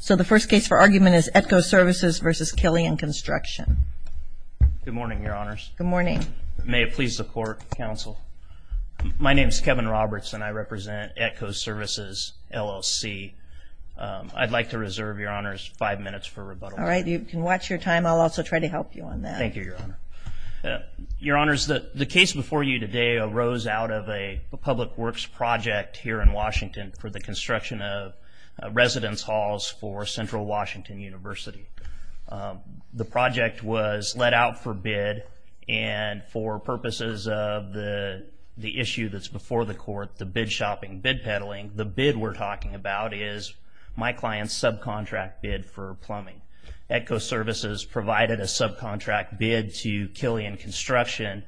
So the first case for argument is ETCO Services v. Killian Construction. Good morning, Your Honors. Good morning. May it please the Court, Counsel. My name is Kevin Roberts, and I represent ETCO Services, LLC. I'd like to reserve, Your Honors, five minutes for rebuttal. All right, you can watch your time. I'll also try to help you on that. Thank you, Your Honor. Your Honors, the case before you today arose out of a public works project here in Washington for the construction of residence halls for Central Washington University. The project was let out for bid, and for purposes of the issue that's before the Court, the bid shopping, bid peddling, the bid we're talking about is my client's subcontract bid for plumbing. ETCO Services provided a subcontract bid to Killian Construction.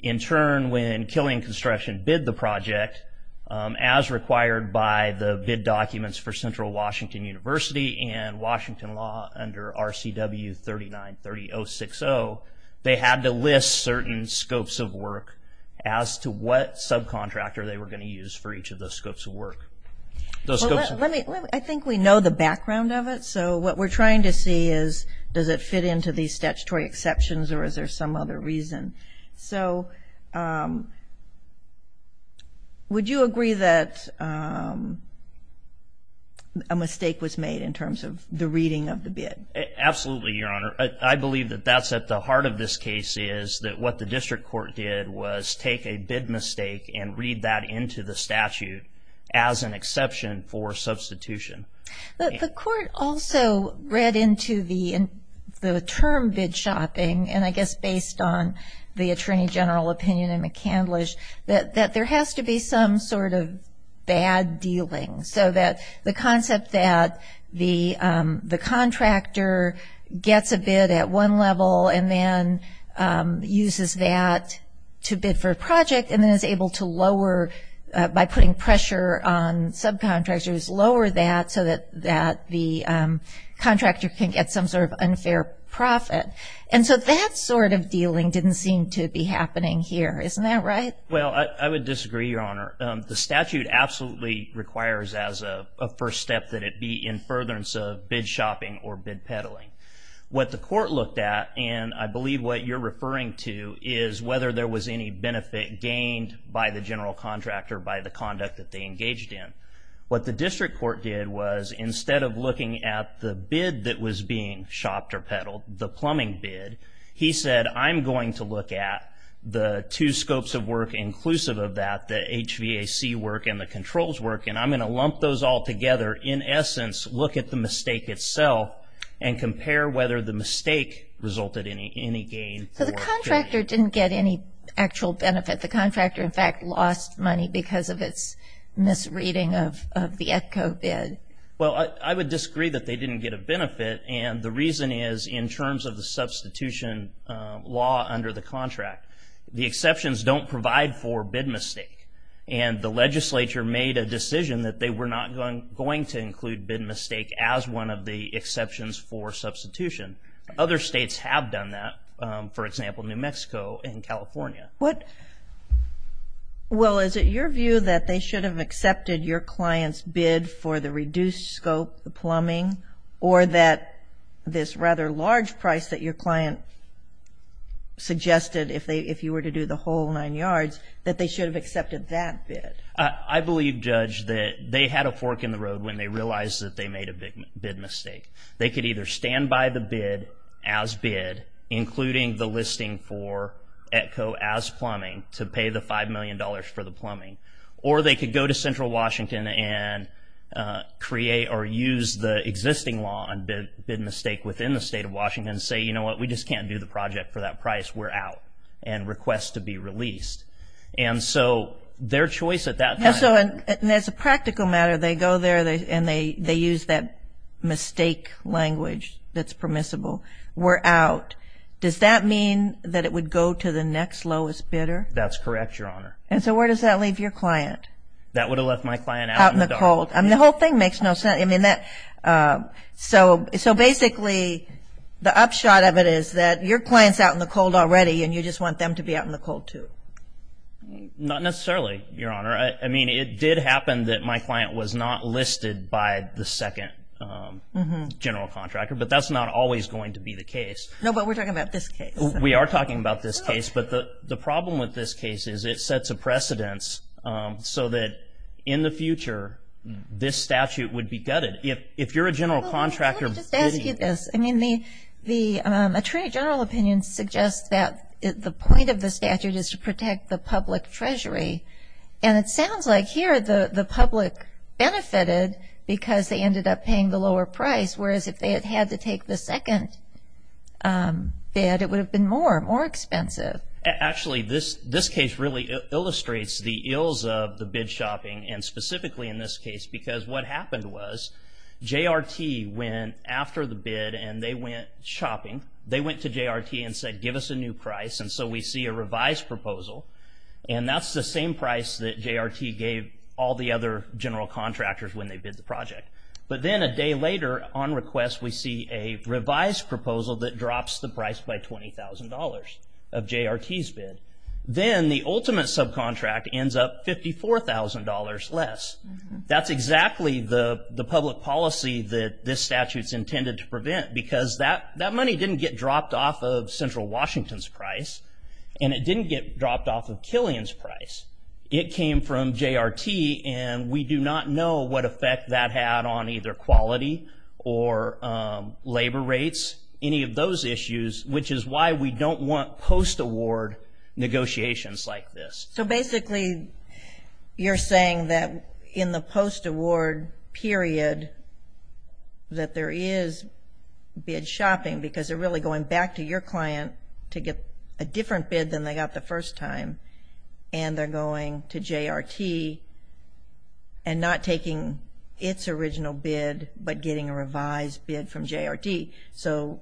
In turn, when Killian Construction bid the project, as required by the bid documents for Central Washington University and Washington law under RCW 393060, they had to list certain scopes of work as to what subcontractor they were going to use for each of those scopes of work. I think we know the background of it, so what we're trying to see is does it fit into these statutory exceptions or is there some other reason? So, would you agree that a mistake was made in terms of the reading of the bid? Absolutely, Your Honor. I believe that that's at the heart of this case, is that what the district court did was take a bid mistake and read that into the statute as an exception for substitution. The court also read into the term bid shopping, and I guess based on the Attorney General opinion in McCandlish, that there has to be some sort of bad dealing, so that the concept that the contractor gets a bid at one level and then uses that to bid for a project and then is able to lower by putting pressure on subcontractors, lower that so that the contractor can get some sort of unfair profit. And so that sort of dealing didn't seem to be happening here. Isn't that right? Well, I would disagree, Your Honor. The statute absolutely requires as a first step that it be in furtherance of bid shopping or bid peddling. What the court looked at, and I believe what you're referring to, is whether there was any benefit gained by the general contractor by the conduct that they engaged in. What the district court did was, instead of looking at the bid that was being shopped or peddled, the plumbing bid, he said, I'm going to look at the two scopes of work inclusive of that, the HVAC work and the controls work, and I'm going to lump those all together, in essence, look at the mistake itself and compare whether the mistake resulted in any gain. So the contractor didn't get any actual benefit. The contractor, in fact, lost money because of its misreading of the ECCO bid. Well, I would disagree that they didn't get a benefit, and the reason is in terms of the substitution law under the contract. The exceptions don't provide for bid mistake, and the legislature made a decision that they were not going to include bid mistake as one of the exceptions for substitution. Other states have done that, for example, New Mexico and California. Well, is it your view that they should have accepted your client's bid for the reduced scope, the plumbing, or that this rather large price that your client suggested, if you were to do the whole nine yards, that they should have accepted that bid? I believe, Judge, that they had a fork in the road when they realized that they made a bid mistake. They could either stand by the bid as bid, including the listing for ECCO as plumbing, to pay the $5 million for the plumbing, or they could go to Central Washington and create or use the existing law on bid mistake within the state of Washington and say, you know what, we just can't do the project for that price. We're out, and request to be released. And so their choice at that time. And as a practical matter, they go there and they use that mistake language that's permissible. We're out. Does that mean that it would go to the next lowest bidder? That's correct, Your Honor. And so where does that leave your client? That would have left my client out in the cold. The whole thing makes no sense. So basically, the upshot of it is that your client's out in the cold already, and you just want them to be out in the cold, too. Not necessarily, Your Honor. I mean, it did happen that my client was not listed by the second general contractor, but that's not always going to be the case. No, but we're talking about this case. We are talking about this case. But the problem with this case is it sets a precedence so that in the future, this statute would be gutted. If you're a general contractor bidding. Well, let me just ask you this. I mean, the Attorney General opinion suggests that the point of the statute is to protect the public treasury. And it sounds like here the public benefited because they ended up paying the lower price, whereas if they had had to take the second bid, it would have been more, more expensive. Actually, this case really illustrates the ills of the bid shopping, and specifically in this case because what happened was J.R.T. went after the bid, and they went shopping. They went to J.R.T. and said, give us a new price. And so we see a revised proposal, and that's the same price that J.R.T. gave all the other general contractors when they bid the project. But then a day later on request, we see a revised proposal that drops the price by $20,000 of J.R.T.'s bid. Then the ultimate subcontract ends up $54,000 less. That's exactly the public policy that this statute's intended to prevent because that money didn't get dropped off of Central Washington's price, and it didn't get dropped off of Killian's price. It came from J.R.T., and we do not know what effect that had on either quality or labor rates, any of those issues, which is why we don't want post-award negotiations like this. So basically you're saying that in the post-award period that there is bid shopping because they're really going back to your client to get a different bid than they got the first time, and they're going to J.R.T. and not taking its original bid but getting a revised bid from J.R.T. So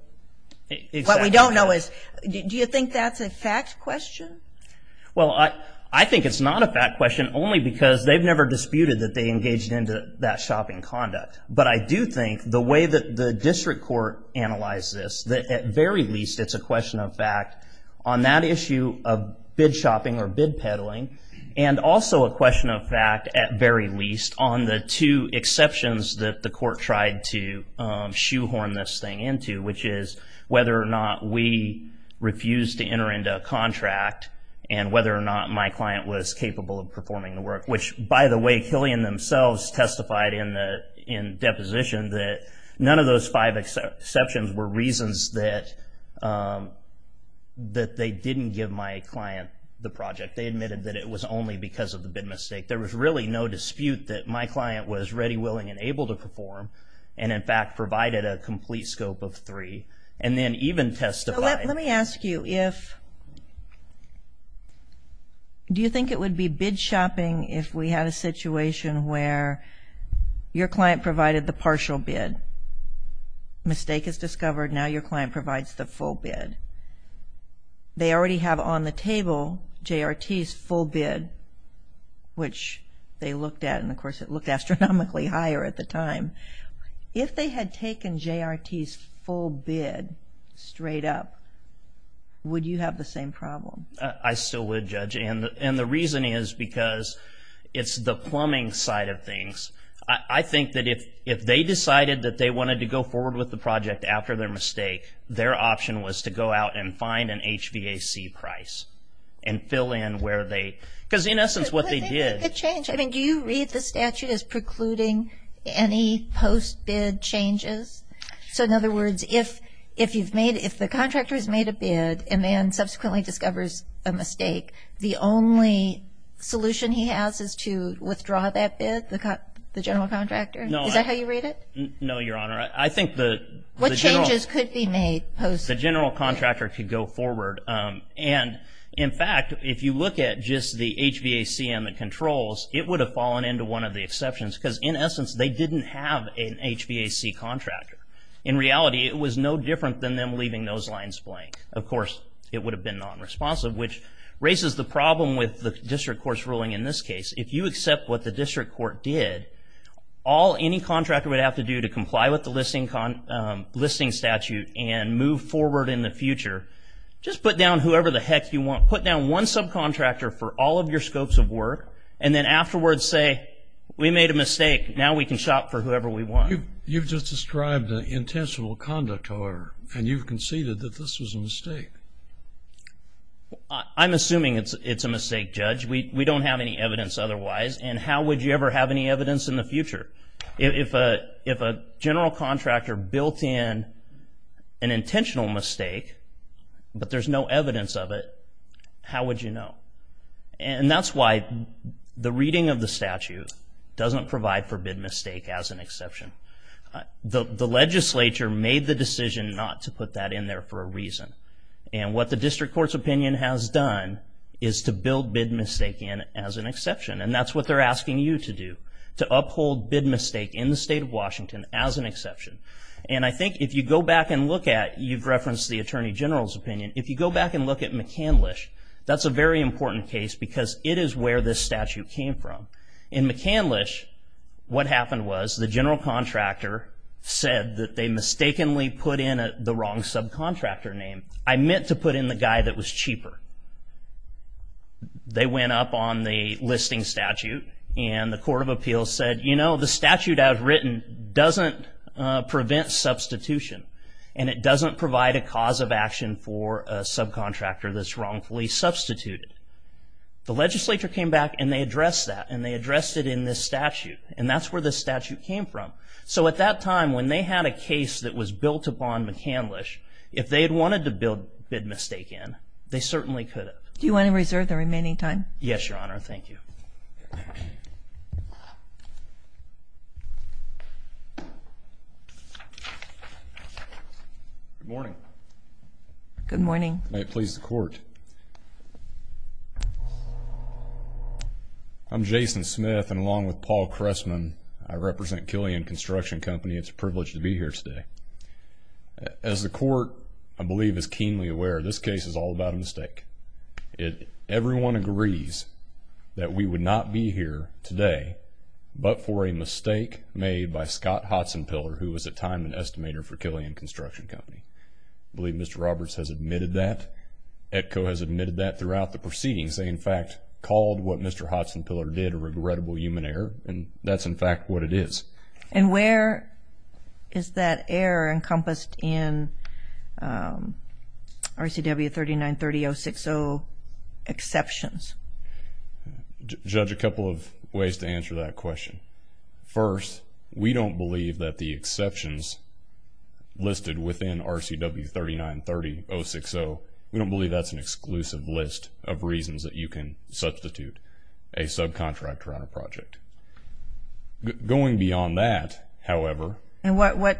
what we don't know is, do you think that's a fact question? Well, I think it's not a fact question only because they've never disputed that they engaged into that shopping conduct. But I do think the way that the district court analyzed this, that at very least it's a question of fact on that issue of bid shopping or bid peddling, and also a question of fact, at very least, on the two exceptions that the court tried to shoehorn this thing into, which is whether or not we refused to enter into a contract and whether or not my client was capable of performing the work, which, by the way, Killian themselves testified in deposition that none of those five exceptions were reasons that they didn't give my client the project. They admitted that it was only because of the bid mistake. There was really no dispute that my client was ready, willing, and able to perform and, in fact, provided a complete scope of three, and then even testified. So let me ask you, do you think it would be bid shopping if we had a situation where your client provided the partial bid, mistake is discovered, now your client provides the full bid? They already have on the table J.R.T.'s full bid, which they looked at, and of course it looked astronomically higher at the time. If they had taken J.R.T.'s full bid straight up, would you have the same problem? I still would, Judge, and the reason is because it's the plumbing side of things. I think that if they decided that they wanted to go forward with the project after their mistake, their option was to go out and find an HVAC price and fill in where they, because, in essence, what they did. Do you read the statute as precluding any post-bid changes? So, in other words, if the contractor has made a bid and then subsequently discovers a mistake, the only solution he has is to withdraw that bid, the general contractor? No. Is that how you read it? No, Your Honor. What changes could be made post-bid? The general contractor could go forward. And, in fact, if you look at just the HVAC and the controls, it would have fallen into one of the exceptions because, in essence, they didn't have an HVAC contractor. In reality, it was no different than them leaving those lines blank. Of course, it would have been nonresponsive, which raises the problem with the district court's ruling in this case. If you accept what the district court did, all any contractor would have to do to comply with the listing statute and move forward in the future, just put down whoever the heck you want. Put down one subcontractor for all of your scopes of work, and then afterwards say, we made a mistake. Now we can shop for whoever we want. You've just described an intentional conduct order, and you've conceded that this was a mistake. I'm assuming it's a mistake, Judge. We don't have any evidence otherwise, and how would you ever have any evidence in the future? If a general contractor built in an intentional mistake, but there's no evidence of it, how would you know? And that's why the reading of the statute doesn't provide for bid mistake as an exception. The legislature made the decision not to put that in there for a reason, and what the district court's opinion has done is to build bid mistake in as an exception, and that's what they're asking you to do, to uphold bid mistake in the state of Washington as an exception. And I think if you go back and look at, you've referenced the attorney general's opinion, if you go back and look at McCandlish, that's a very important case because it is where this statute came from. In McCandlish, what happened was the general contractor said that they mistakenly put in the wrong subcontractor name. I meant to put in the guy that was cheaper. They went up on the listing statute, and the court of appeals said, you know, the statute I've written doesn't prevent substitution, and it doesn't provide a cause of action for a subcontractor that's wrongfully substituted. The legislature came back, and they addressed that, and they addressed it in this statute, and that's where this statute came from. So at that time, when they had a case that was built upon McCandlish, if they had wanted to build bid mistake in, they certainly could have. Do you want to reserve the remaining time? Yes, Your Honor. Thank you. Good morning. Good morning. May it please the court. I'm Jason Smith, and along with Paul Cressman, I represent Killian Construction Company. It's a privilege to be here today. As the court, I believe, is keenly aware, this case is all about a mistake. Everyone agrees that we would not be here today but for a mistake made by Scott Hodson-Piller, who was at the time an estimator for Killian Construction Company. I believe Mr. Roberts has admitted that. ETCO has admitted that throughout the proceedings. They, in fact, called what Mr. Hodson-Piller did a regrettable human error, and that's, in fact, what it is. And where is that error encompassed in RCW 3930-060 exceptions? Judge, a couple of ways to answer that question. First, we don't believe that the exceptions listed within RCW 3930-060, we don't believe that's an exclusive list of reasons that you can substitute a subcontractor on a project. Going beyond that, however... And what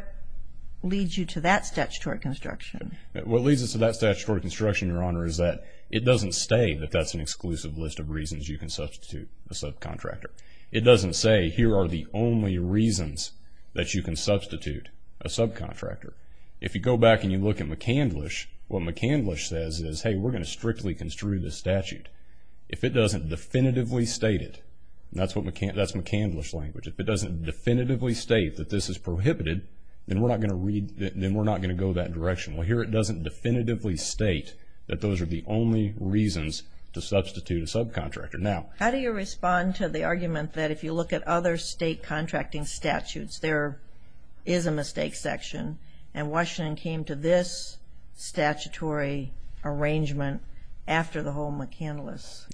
leads you to that statutory construction? What leads us to that statutory construction, Your Honor, is that it doesn't say that that's an exclusive list of reasons you can substitute a subcontractor. It doesn't say here are the only reasons that you can substitute a subcontractor. If you go back and you look at McCandlish, what McCandlish says is, hey, we're going to strictly construe this statute. If it doesn't definitively state it, that's McCandlish language, if it doesn't definitively state that this is prohibited, then we're not going to go that direction. Well, here it doesn't definitively state that those are the only reasons to substitute a subcontractor. How do you respond to the argument that if you look at other state contracting statutes, there is a mistake section, and Washington came to this statutory arrangement after the whole McCandlish?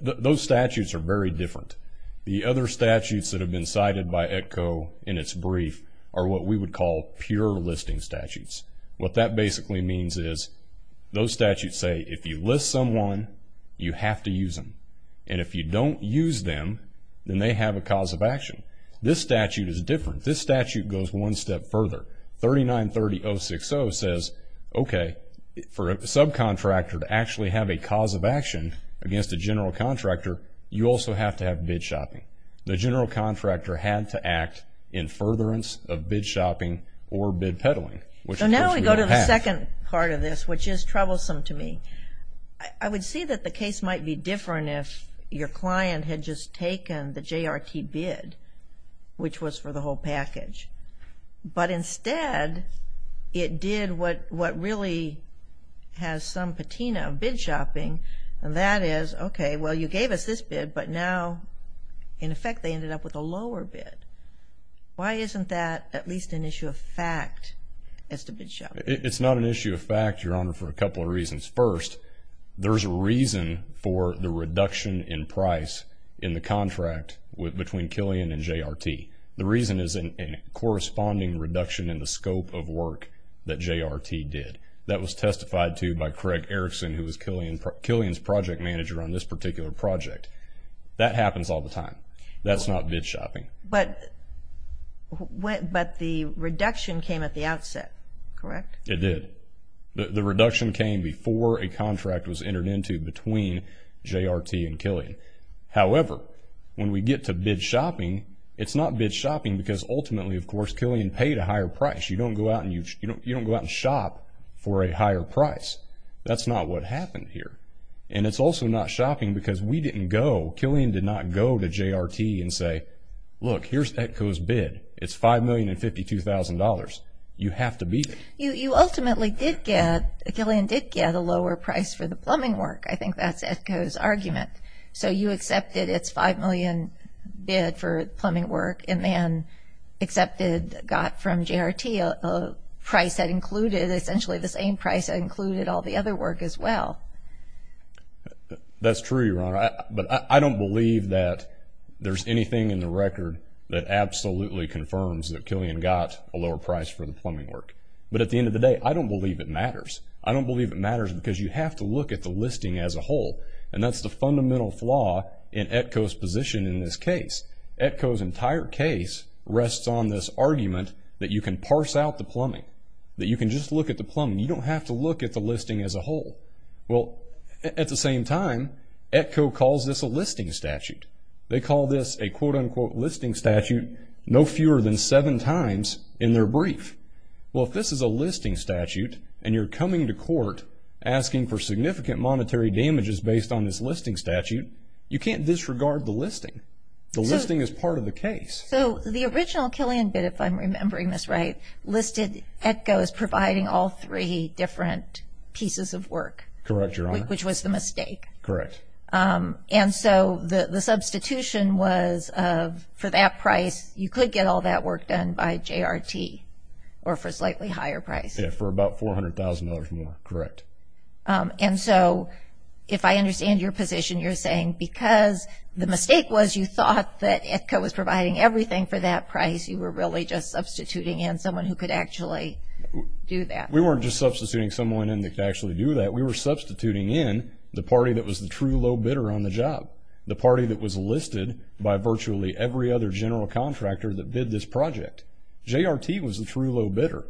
Those statutes are very different. The other statutes that have been cited by ETCO in its brief are what we would call pure listing statutes. What that basically means is those statutes say if you list someone, you have to use them, and if you don't use them, then they have a cause of action. This statute is different. This statute goes one step further. 3930.060 says, okay, for a subcontractor to actually have a cause of action against a general contractor, you also have to have bid shopping. The general contractor had to act in furtherance of bid shopping or bid peddling. Now we go to the second part of this, which is troublesome to me. I would see that the case might be different if your client had just taken the JRT bid, which was for the whole package, but instead it did what really has some patina of bid shopping, and that is, okay, well, you gave us this bid, but now in effect they ended up with a lower bid. Why isn't that at least an issue of fact as to bid shopping? It's not an issue of fact, Your Honor, for a couple of reasons. First, there's a reason for the reduction in price in the contract between Killian and JRT. The reason is a corresponding reduction in the scope of work that JRT did. That was testified to by Craig Erickson, who was Killian's project manager on this particular project. That happens all the time. That's not bid shopping. But the reduction came at the outset, correct? It did. The reduction came before a contract was entered into between JRT and Killian. However, when we get to bid shopping, it's not bid shopping because ultimately, of course, Killian paid a higher price. You don't go out and shop for a higher price. That's not what happened here. And it's also not shopping because we didn't go, Killian did not go to JRT and say, look, here's ETCO's bid. It's $5,052,000. You have to beat it. You ultimately did get, Killian did get a lower price for the plumbing work. I think that's ETCO's argument. So you accepted its $5 million bid for plumbing work and then accepted, got from JRT a price that included essentially the same price that included all the other work as well. That's true, Your Honor. But I don't believe that there's anything in the record that absolutely confirms that Killian got a lower price for the plumbing work. But at the end of the day, I don't believe it matters. I don't believe it matters because you have to look at the listing as a whole. And that's the fundamental flaw in ETCO's position in this case. ETCO's entire case rests on this argument that you can parse out the plumbing, that you can just look at the plumbing. You don't have to look at the listing as a whole. Well, at the same time, ETCO calls this a listing statute. They call this a, quote, unquote, listing statute no fewer than seven times in their brief. Well, if this is a listing statute and you're coming to court asking for significant monetary damages based on this listing statute, you can't disregard the listing. The listing is part of the case. So the original Killian bid, if I'm remembering this right, listed ETCO as providing all three different pieces of work. Correct, Your Honor. Which was the mistake. Correct. And so the substitution was for that price, you could get all that work done by JRT or for a slightly higher price. Yeah, for about $400,000 more. Correct. And so if I understand your position, you're saying because the mistake was you thought that ETCO was providing everything for that price, you were really just substituting in someone who could actually do that. We weren't just substituting someone in that could actually do that. We were substituting in the party that was the true low bidder on the job, the party that was listed by virtually every other general contractor that bid this project. JRT was the true low bidder.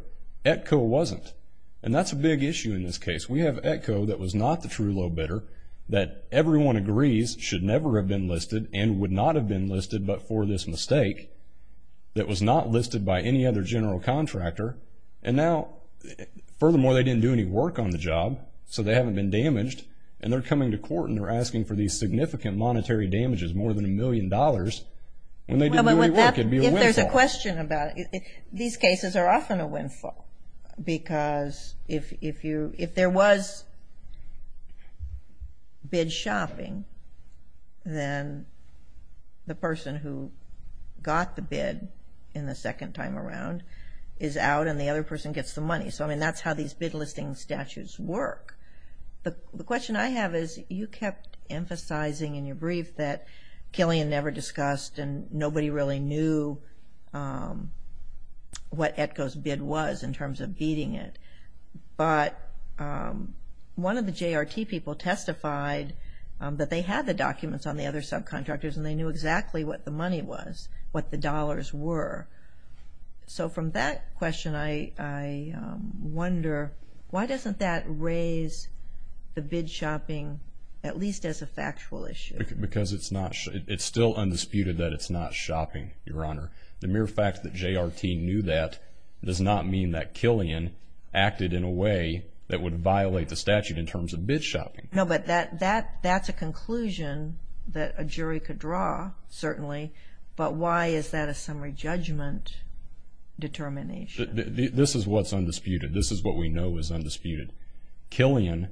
ETCO wasn't. And that's a big issue in this case. We have ETCO that was not the true low bidder, that everyone agrees should never have been listed and would not have been listed but for this mistake that was not listed by any other general contractor. And now, furthermore, they didn't do any work on the job, so they haven't been damaged, and they're coming to court and they're asking for these significant monetary damages, more than a million dollars, and they didn't do any work. It would be a windfall. If there's a question about it, these cases are often a windfall because if there was bid shopping, then the person who got the bid in the second time around is out and the other person gets the money. So, I mean, that's how these bid listing statutes work. The question I have is you kept emphasizing in your brief that Killian never discussed and nobody really knew what ETCO's bid was in terms of beating it. But one of the JRT people testified that they had the documents on the other subcontractors and they knew exactly what the money was, what the dollars were. So from that question, I wonder why doesn't that raise the bid shopping at least as a factual issue? Because it's still undisputed that it's not shopping, Your Honor. The mere fact that JRT knew that does not mean that Killian acted in a way that would violate the statute in terms of bid shopping. No, but that's a conclusion that a jury could draw, certainly, but why is that a summary judgment determination? This is what's undisputed. This is what we know is undisputed. Killian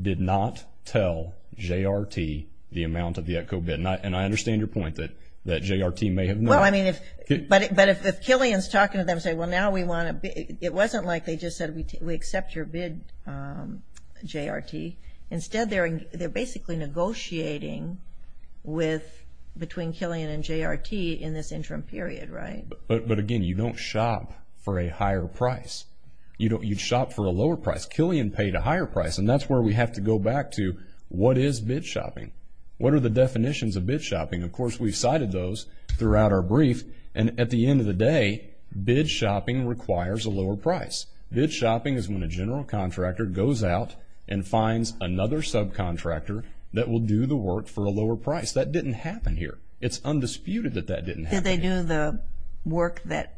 did not tell JRT the amount of the ETCO bid, and I understand your point that JRT may have known. Well, I mean, but if Killian's talking to them saying, well, now we want to bid, it wasn't like they just said we accept your bid, JRT. Instead, they're basically negotiating between Killian and JRT in this interim period, right? But, again, you don't shop for a higher price. You'd shop for a lower price. Killian paid a higher price, and that's where we have to go back to what is bid shopping? What are the definitions of bid shopping? Of course, we've cited those throughout our brief, and at the end of the day, bid shopping requires a lower price. Bid shopping is when a general contractor goes out and finds another subcontractor that will do the work for a lower price. That didn't happen here. It's undisputed that that didn't happen here. Don't they do the work that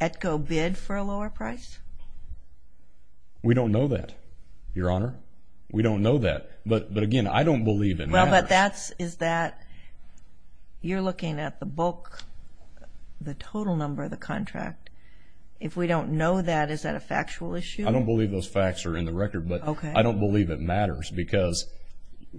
ETCO bid for a lower price? We don't know that, Your Honor. We don't know that. But, again, I don't believe it matters. Well, but that is that you're looking at the bulk, the total number of the contract. If we don't know that, is that a factual issue? I don't believe those facts are in the record, but I don't believe it matters because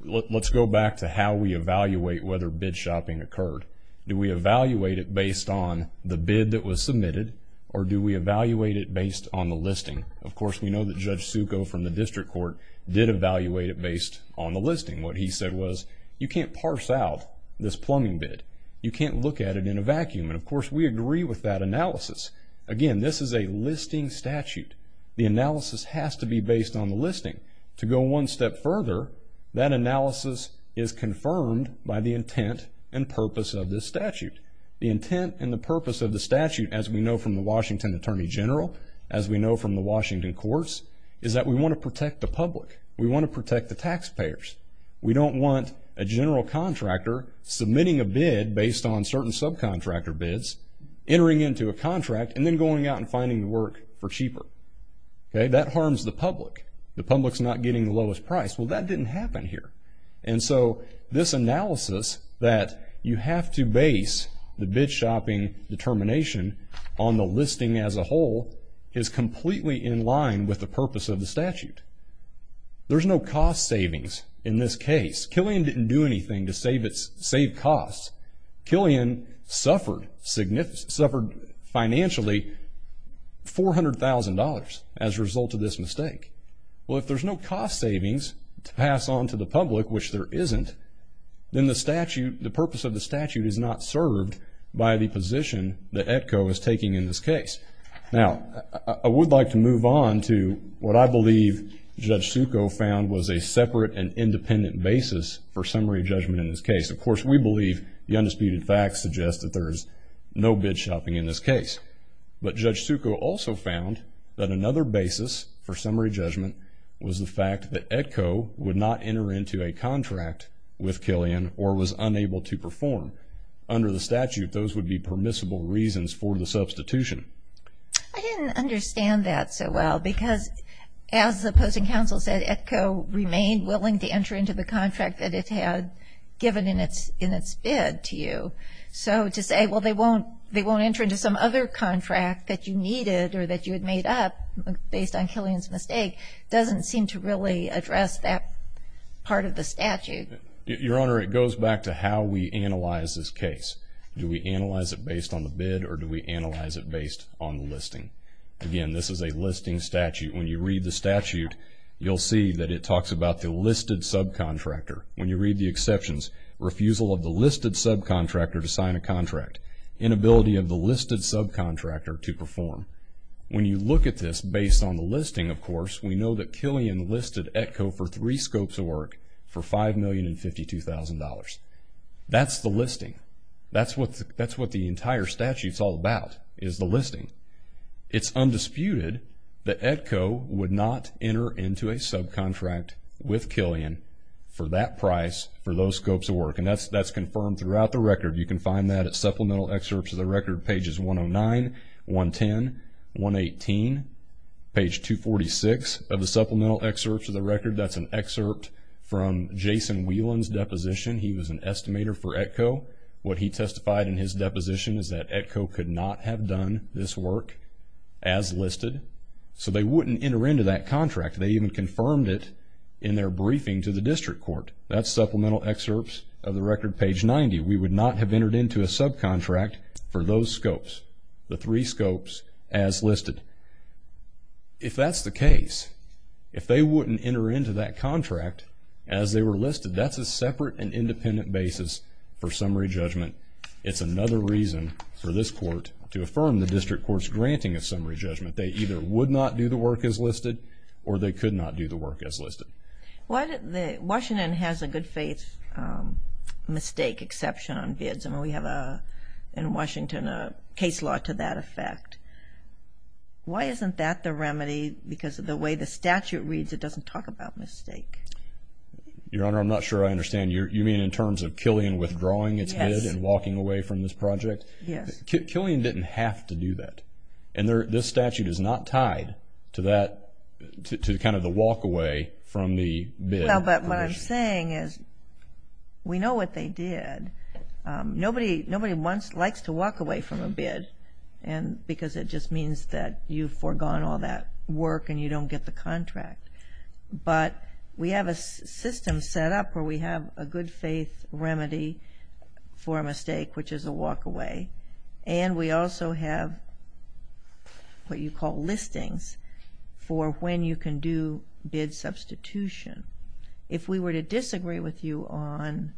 let's go back to how we evaluate whether bid shopping occurred. Do we evaluate it based on the bid that was submitted, or do we evaluate it based on the listing? Of course, we know that Judge Succo from the district court did evaluate it based on the listing. What he said was, you can't parse out this plumbing bid. You can't look at it in a vacuum. And, of course, we agree with that analysis. Again, this is a listing statute. The analysis has to be based on the listing. To go one step further, that analysis is confirmed by the intent and purpose of this statute. The intent and the purpose of the statute, as we know from the Washington Attorney General, as we know from the Washington courts, is that we want to protect the public. We want to protect the taxpayers. We don't want a general contractor submitting a bid based on certain subcontractor bids, entering into a contract, and then going out and finding work for cheaper. That harms the public. The public's not getting the lowest price. Well, that didn't happen here. And so this analysis that you have to base the bid shopping determination on the listing as a whole is completely in line with the purpose of the statute. There's no cost savings in this case. Killian didn't do anything to save costs. Killian suffered financially $400,000 as a result of this mistake. Well, if there's no cost savings to pass on to the public, which there isn't, then the purpose of the statute is not served by the position that ETCO is taking in this case. Now, I would like to move on to what I believe Judge Succo found was a separate and independent basis for summary judgment in this case. Of course, we believe the undisputed facts suggest that there's no bid shopping in this case. But Judge Succo also found that another basis for summary judgment was the fact that ETCO would not enter into a contract with Killian or was unable to perform. Under the statute, those would be permissible reasons for the substitution. I didn't understand that so well because, as the opposing counsel said, ETCO remained willing to enter into the contract that it had given in its bid to you. So to say, well, they won't enter into some other contract that you needed or that you had made up based on Killian's mistake doesn't seem to really address that part of the statute. Your Honor, it goes back to how we analyze this case. Do we analyze it based on the bid or do we analyze it based on the listing? Again, this is a listing statute. When you read the statute, you'll see that it talks about the listed subcontractor. When you read the exceptions, refusal of the listed subcontractor to sign a contract, inability of the listed subcontractor to perform. When you look at this based on the listing, of course, we know that Killian listed ETCO for three scopes of work for $5,052,000. That's the listing. That's what the entire statute's all about is the listing. It's undisputed that ETCO would not enter into a subcontract with Killian for that price for those scopes of work, and that's confirmed throughout the record. You can find that at Supplemental Excerpts of the Record, pages 109, 110, 118, page 246 of the Supplemental Excerpts of the Record. That's an excerpt from Jason Whelan's deposition. He was an estimator for ETCO. What he testified in his deposition is that ETCO could not have done this work as listed, so they wouldn't enter into that contract. They even confirmed it in their briefing to the district court. That's Supplemental Excerpts of the Record, page 90. We would not have entered into a subcontract for those scopes, the three scopes as listed. If that's the case, if they wouldn't enter into that contract as they were listed, that's a separate and independent basis for summary judgment. It's another reason for this court to affirm the district court's granting of summary judgment. They either would not do the work as listed or they could not do the work as listed. Washington has a good faith mistake exception on bids, and we have in Washington a case law to that effect. Why isn't that the remedy? Because of the way the statute reads, it doesn't talk about mistake. Your Honor, I'm not sure I understand. You mean in terms of Killian withdrawing its bid and walking away from this project? Yes. Killian didn't have to do that, and this statute is not tied to kind of the walk away from the bid. Well, but what I'm saying is we know what they did. Nobody likes to walk away from a bid because it just means that you've foregone all that work and you don't get the contract. But we have a system set up where we have a good faith remedy for a mistake, which is a walk away, and we also have what you call listings for when you can do bid substitution. If we were to disagree with you on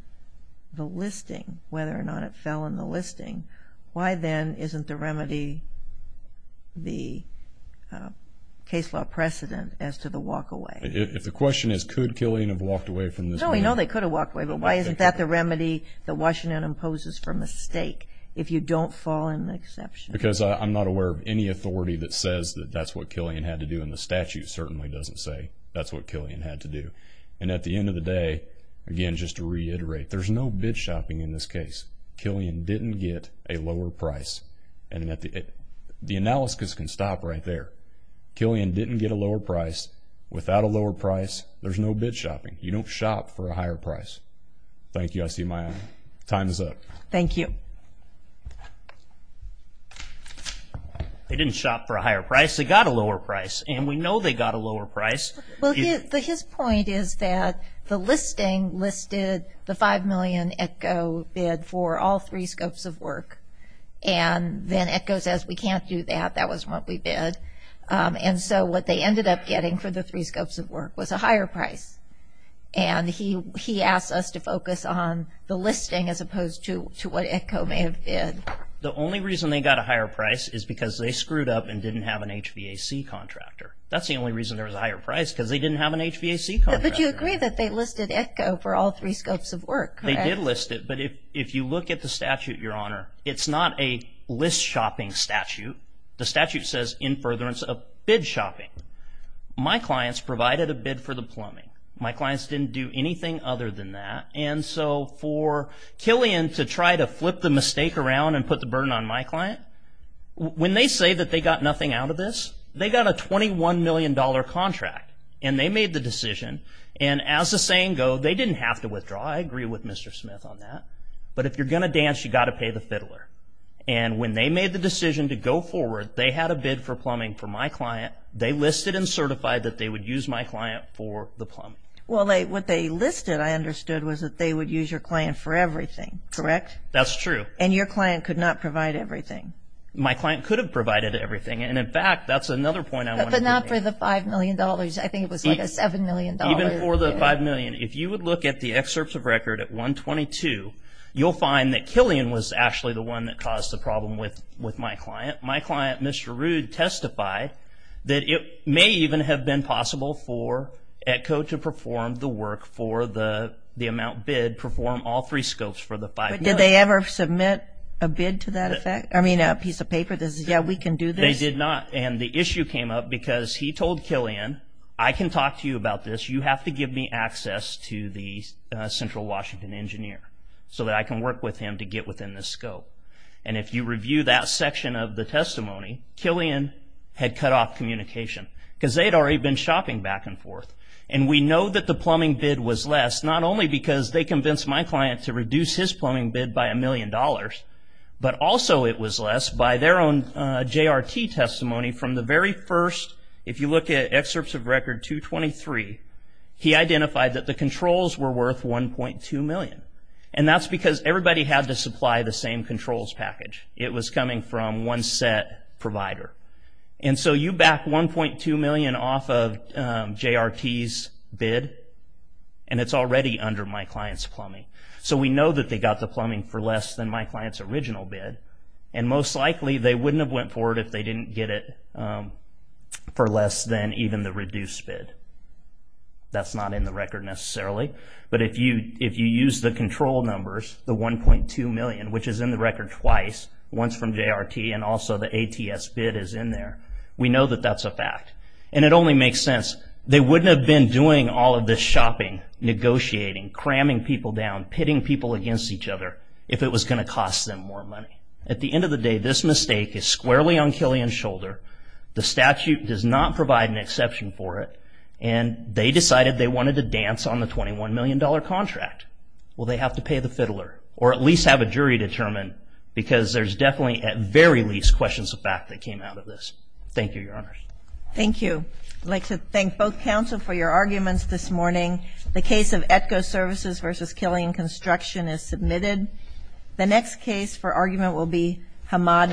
the listing, whether or not it fell in the listing, why then isn't the remedy the case law precedent as to the walk away? If the question is could Killian have walked away from this bid? No, we know they could have walked away, but why isn't that the remedy that Washington imposes for a mistake if you don't fall in the exception? Because I'm not aware of any authority that says that that's what Killian had to do, and the statute certainly doesn't say that's what Killian had to do. And at the end of the day, again, just to reiterate, there's no bid shopping in this case. Killian didn't get a lower price. And the analysis can stop right there. Killian didn't get a lower price. Without a lower price, there's no bid shopping. You don't shop for a higher price. Thank you. I see my time is up. Thank you. They didn't shop for a higher price. They got a lower price, and we know they got a lower price. Well, his point is that the listing listed the $5 million ETCO bid for all three scopes of work. And then ETCO says we can't do that. That wasn't what we bid. And so what they ended up getting for the three scopes of work was a higher price. And he asked us to focus on the listing as opposed to what ETCO may have bid. The only reason they got a higher price is because they screwed up and didn't have an HVAC contractor. That's the only reason there was a higher price, because they didn't have an HVAC contractor. But you agree that they listed ETCO for all three scopes of work, correct? They did list it. But if you look at the statute, Your Honor, it's not a list shopping statute. The statute says in furtherance of bid shopping. My clients provided a bid for the plumbing. My clients didn't do anything other than that. And so for Killian to try to flip the mistake around and put the burden on my client, when they say that they got nothing out of this, they got a $21 million contract. And they made the decision. And as the saying goes, they didn't have to withdraw. I agree with Mr. Smith on that. But if you're going to dance, you've got to pay the fiddler. And when they made the decision to go forward, they had a bid for plumbing for my client. They listed and certified that they would use my client for the plumbing. Well, what they listed, I understood, was that they would use your client for everything, correct? That's true. And your client could not provide everything. My client could have provided everything. And, in fact, that's another point I want to make. But not for the $5 million. I think it was like a $7 million. Even for the $5 million. If you would look at the excerpts of record at 122, you'll find that Killian was actually the one that caused the problem with my client. My client, Mr. Rude, testified that it may even have been possible for ETCO to perform the work for the amount bid, perform all three scopes for the $5 million. But did they ever submit a bid to that effect? I mean, a piece of paper that says, yeah, we can do this? They did not. And the issue came up because he told Killian, I can talk to you about this. You have to give me access to the Central Washington engineer so that I can work with him to get within the scope. And if you review that section of the testimony, Killian had cut off communication because they had already been shopping back and forth. And we know that the plumbing bid was less, not only because they convinced my client to reduce his plumbing bid by a million dollars, but also it was less by their own JRT testimony from the very first, if you look at excerpts of record 223, he identified that the controls were worth $1.2 million. And that's because everybody had to supply the same controls package. It was coming from one set provider. And so you back $1.2 million off of JRT's bid, and it's already under my client's plumbing. So we know that they got the plumbing for less than my client's original bid, and most likely they wouldn't have went forward if they didn't get it for less than even the reduced bid. That's not in the record necessarily. But if you use the control numbers, the $1.2 million, which is in the record twice, once from JRT and also the ATS bid is in there, we know that that's a fact. And it only makes sense. They wouldn't have been doing all of this shopping, negotiating, cramming people down, pitting people against each other, if it was going to cost them more money. At the end of the day, this mistake is squarely on Killian's shoulder. The statute does not provide an exception for it. And they decided they wanted to dance on the $21 million contract. Well, they have to pay the fiddler, or at least have a jury determine, because there's definitely at very least questions of fact that came out of this. Thank you, Your Honors. Thank you. I'd like to thank both counsel for your arguments this morning. The case of ETCO Services v. Killian Construction is submitted. The next case for argument will be Hamad v. Gates.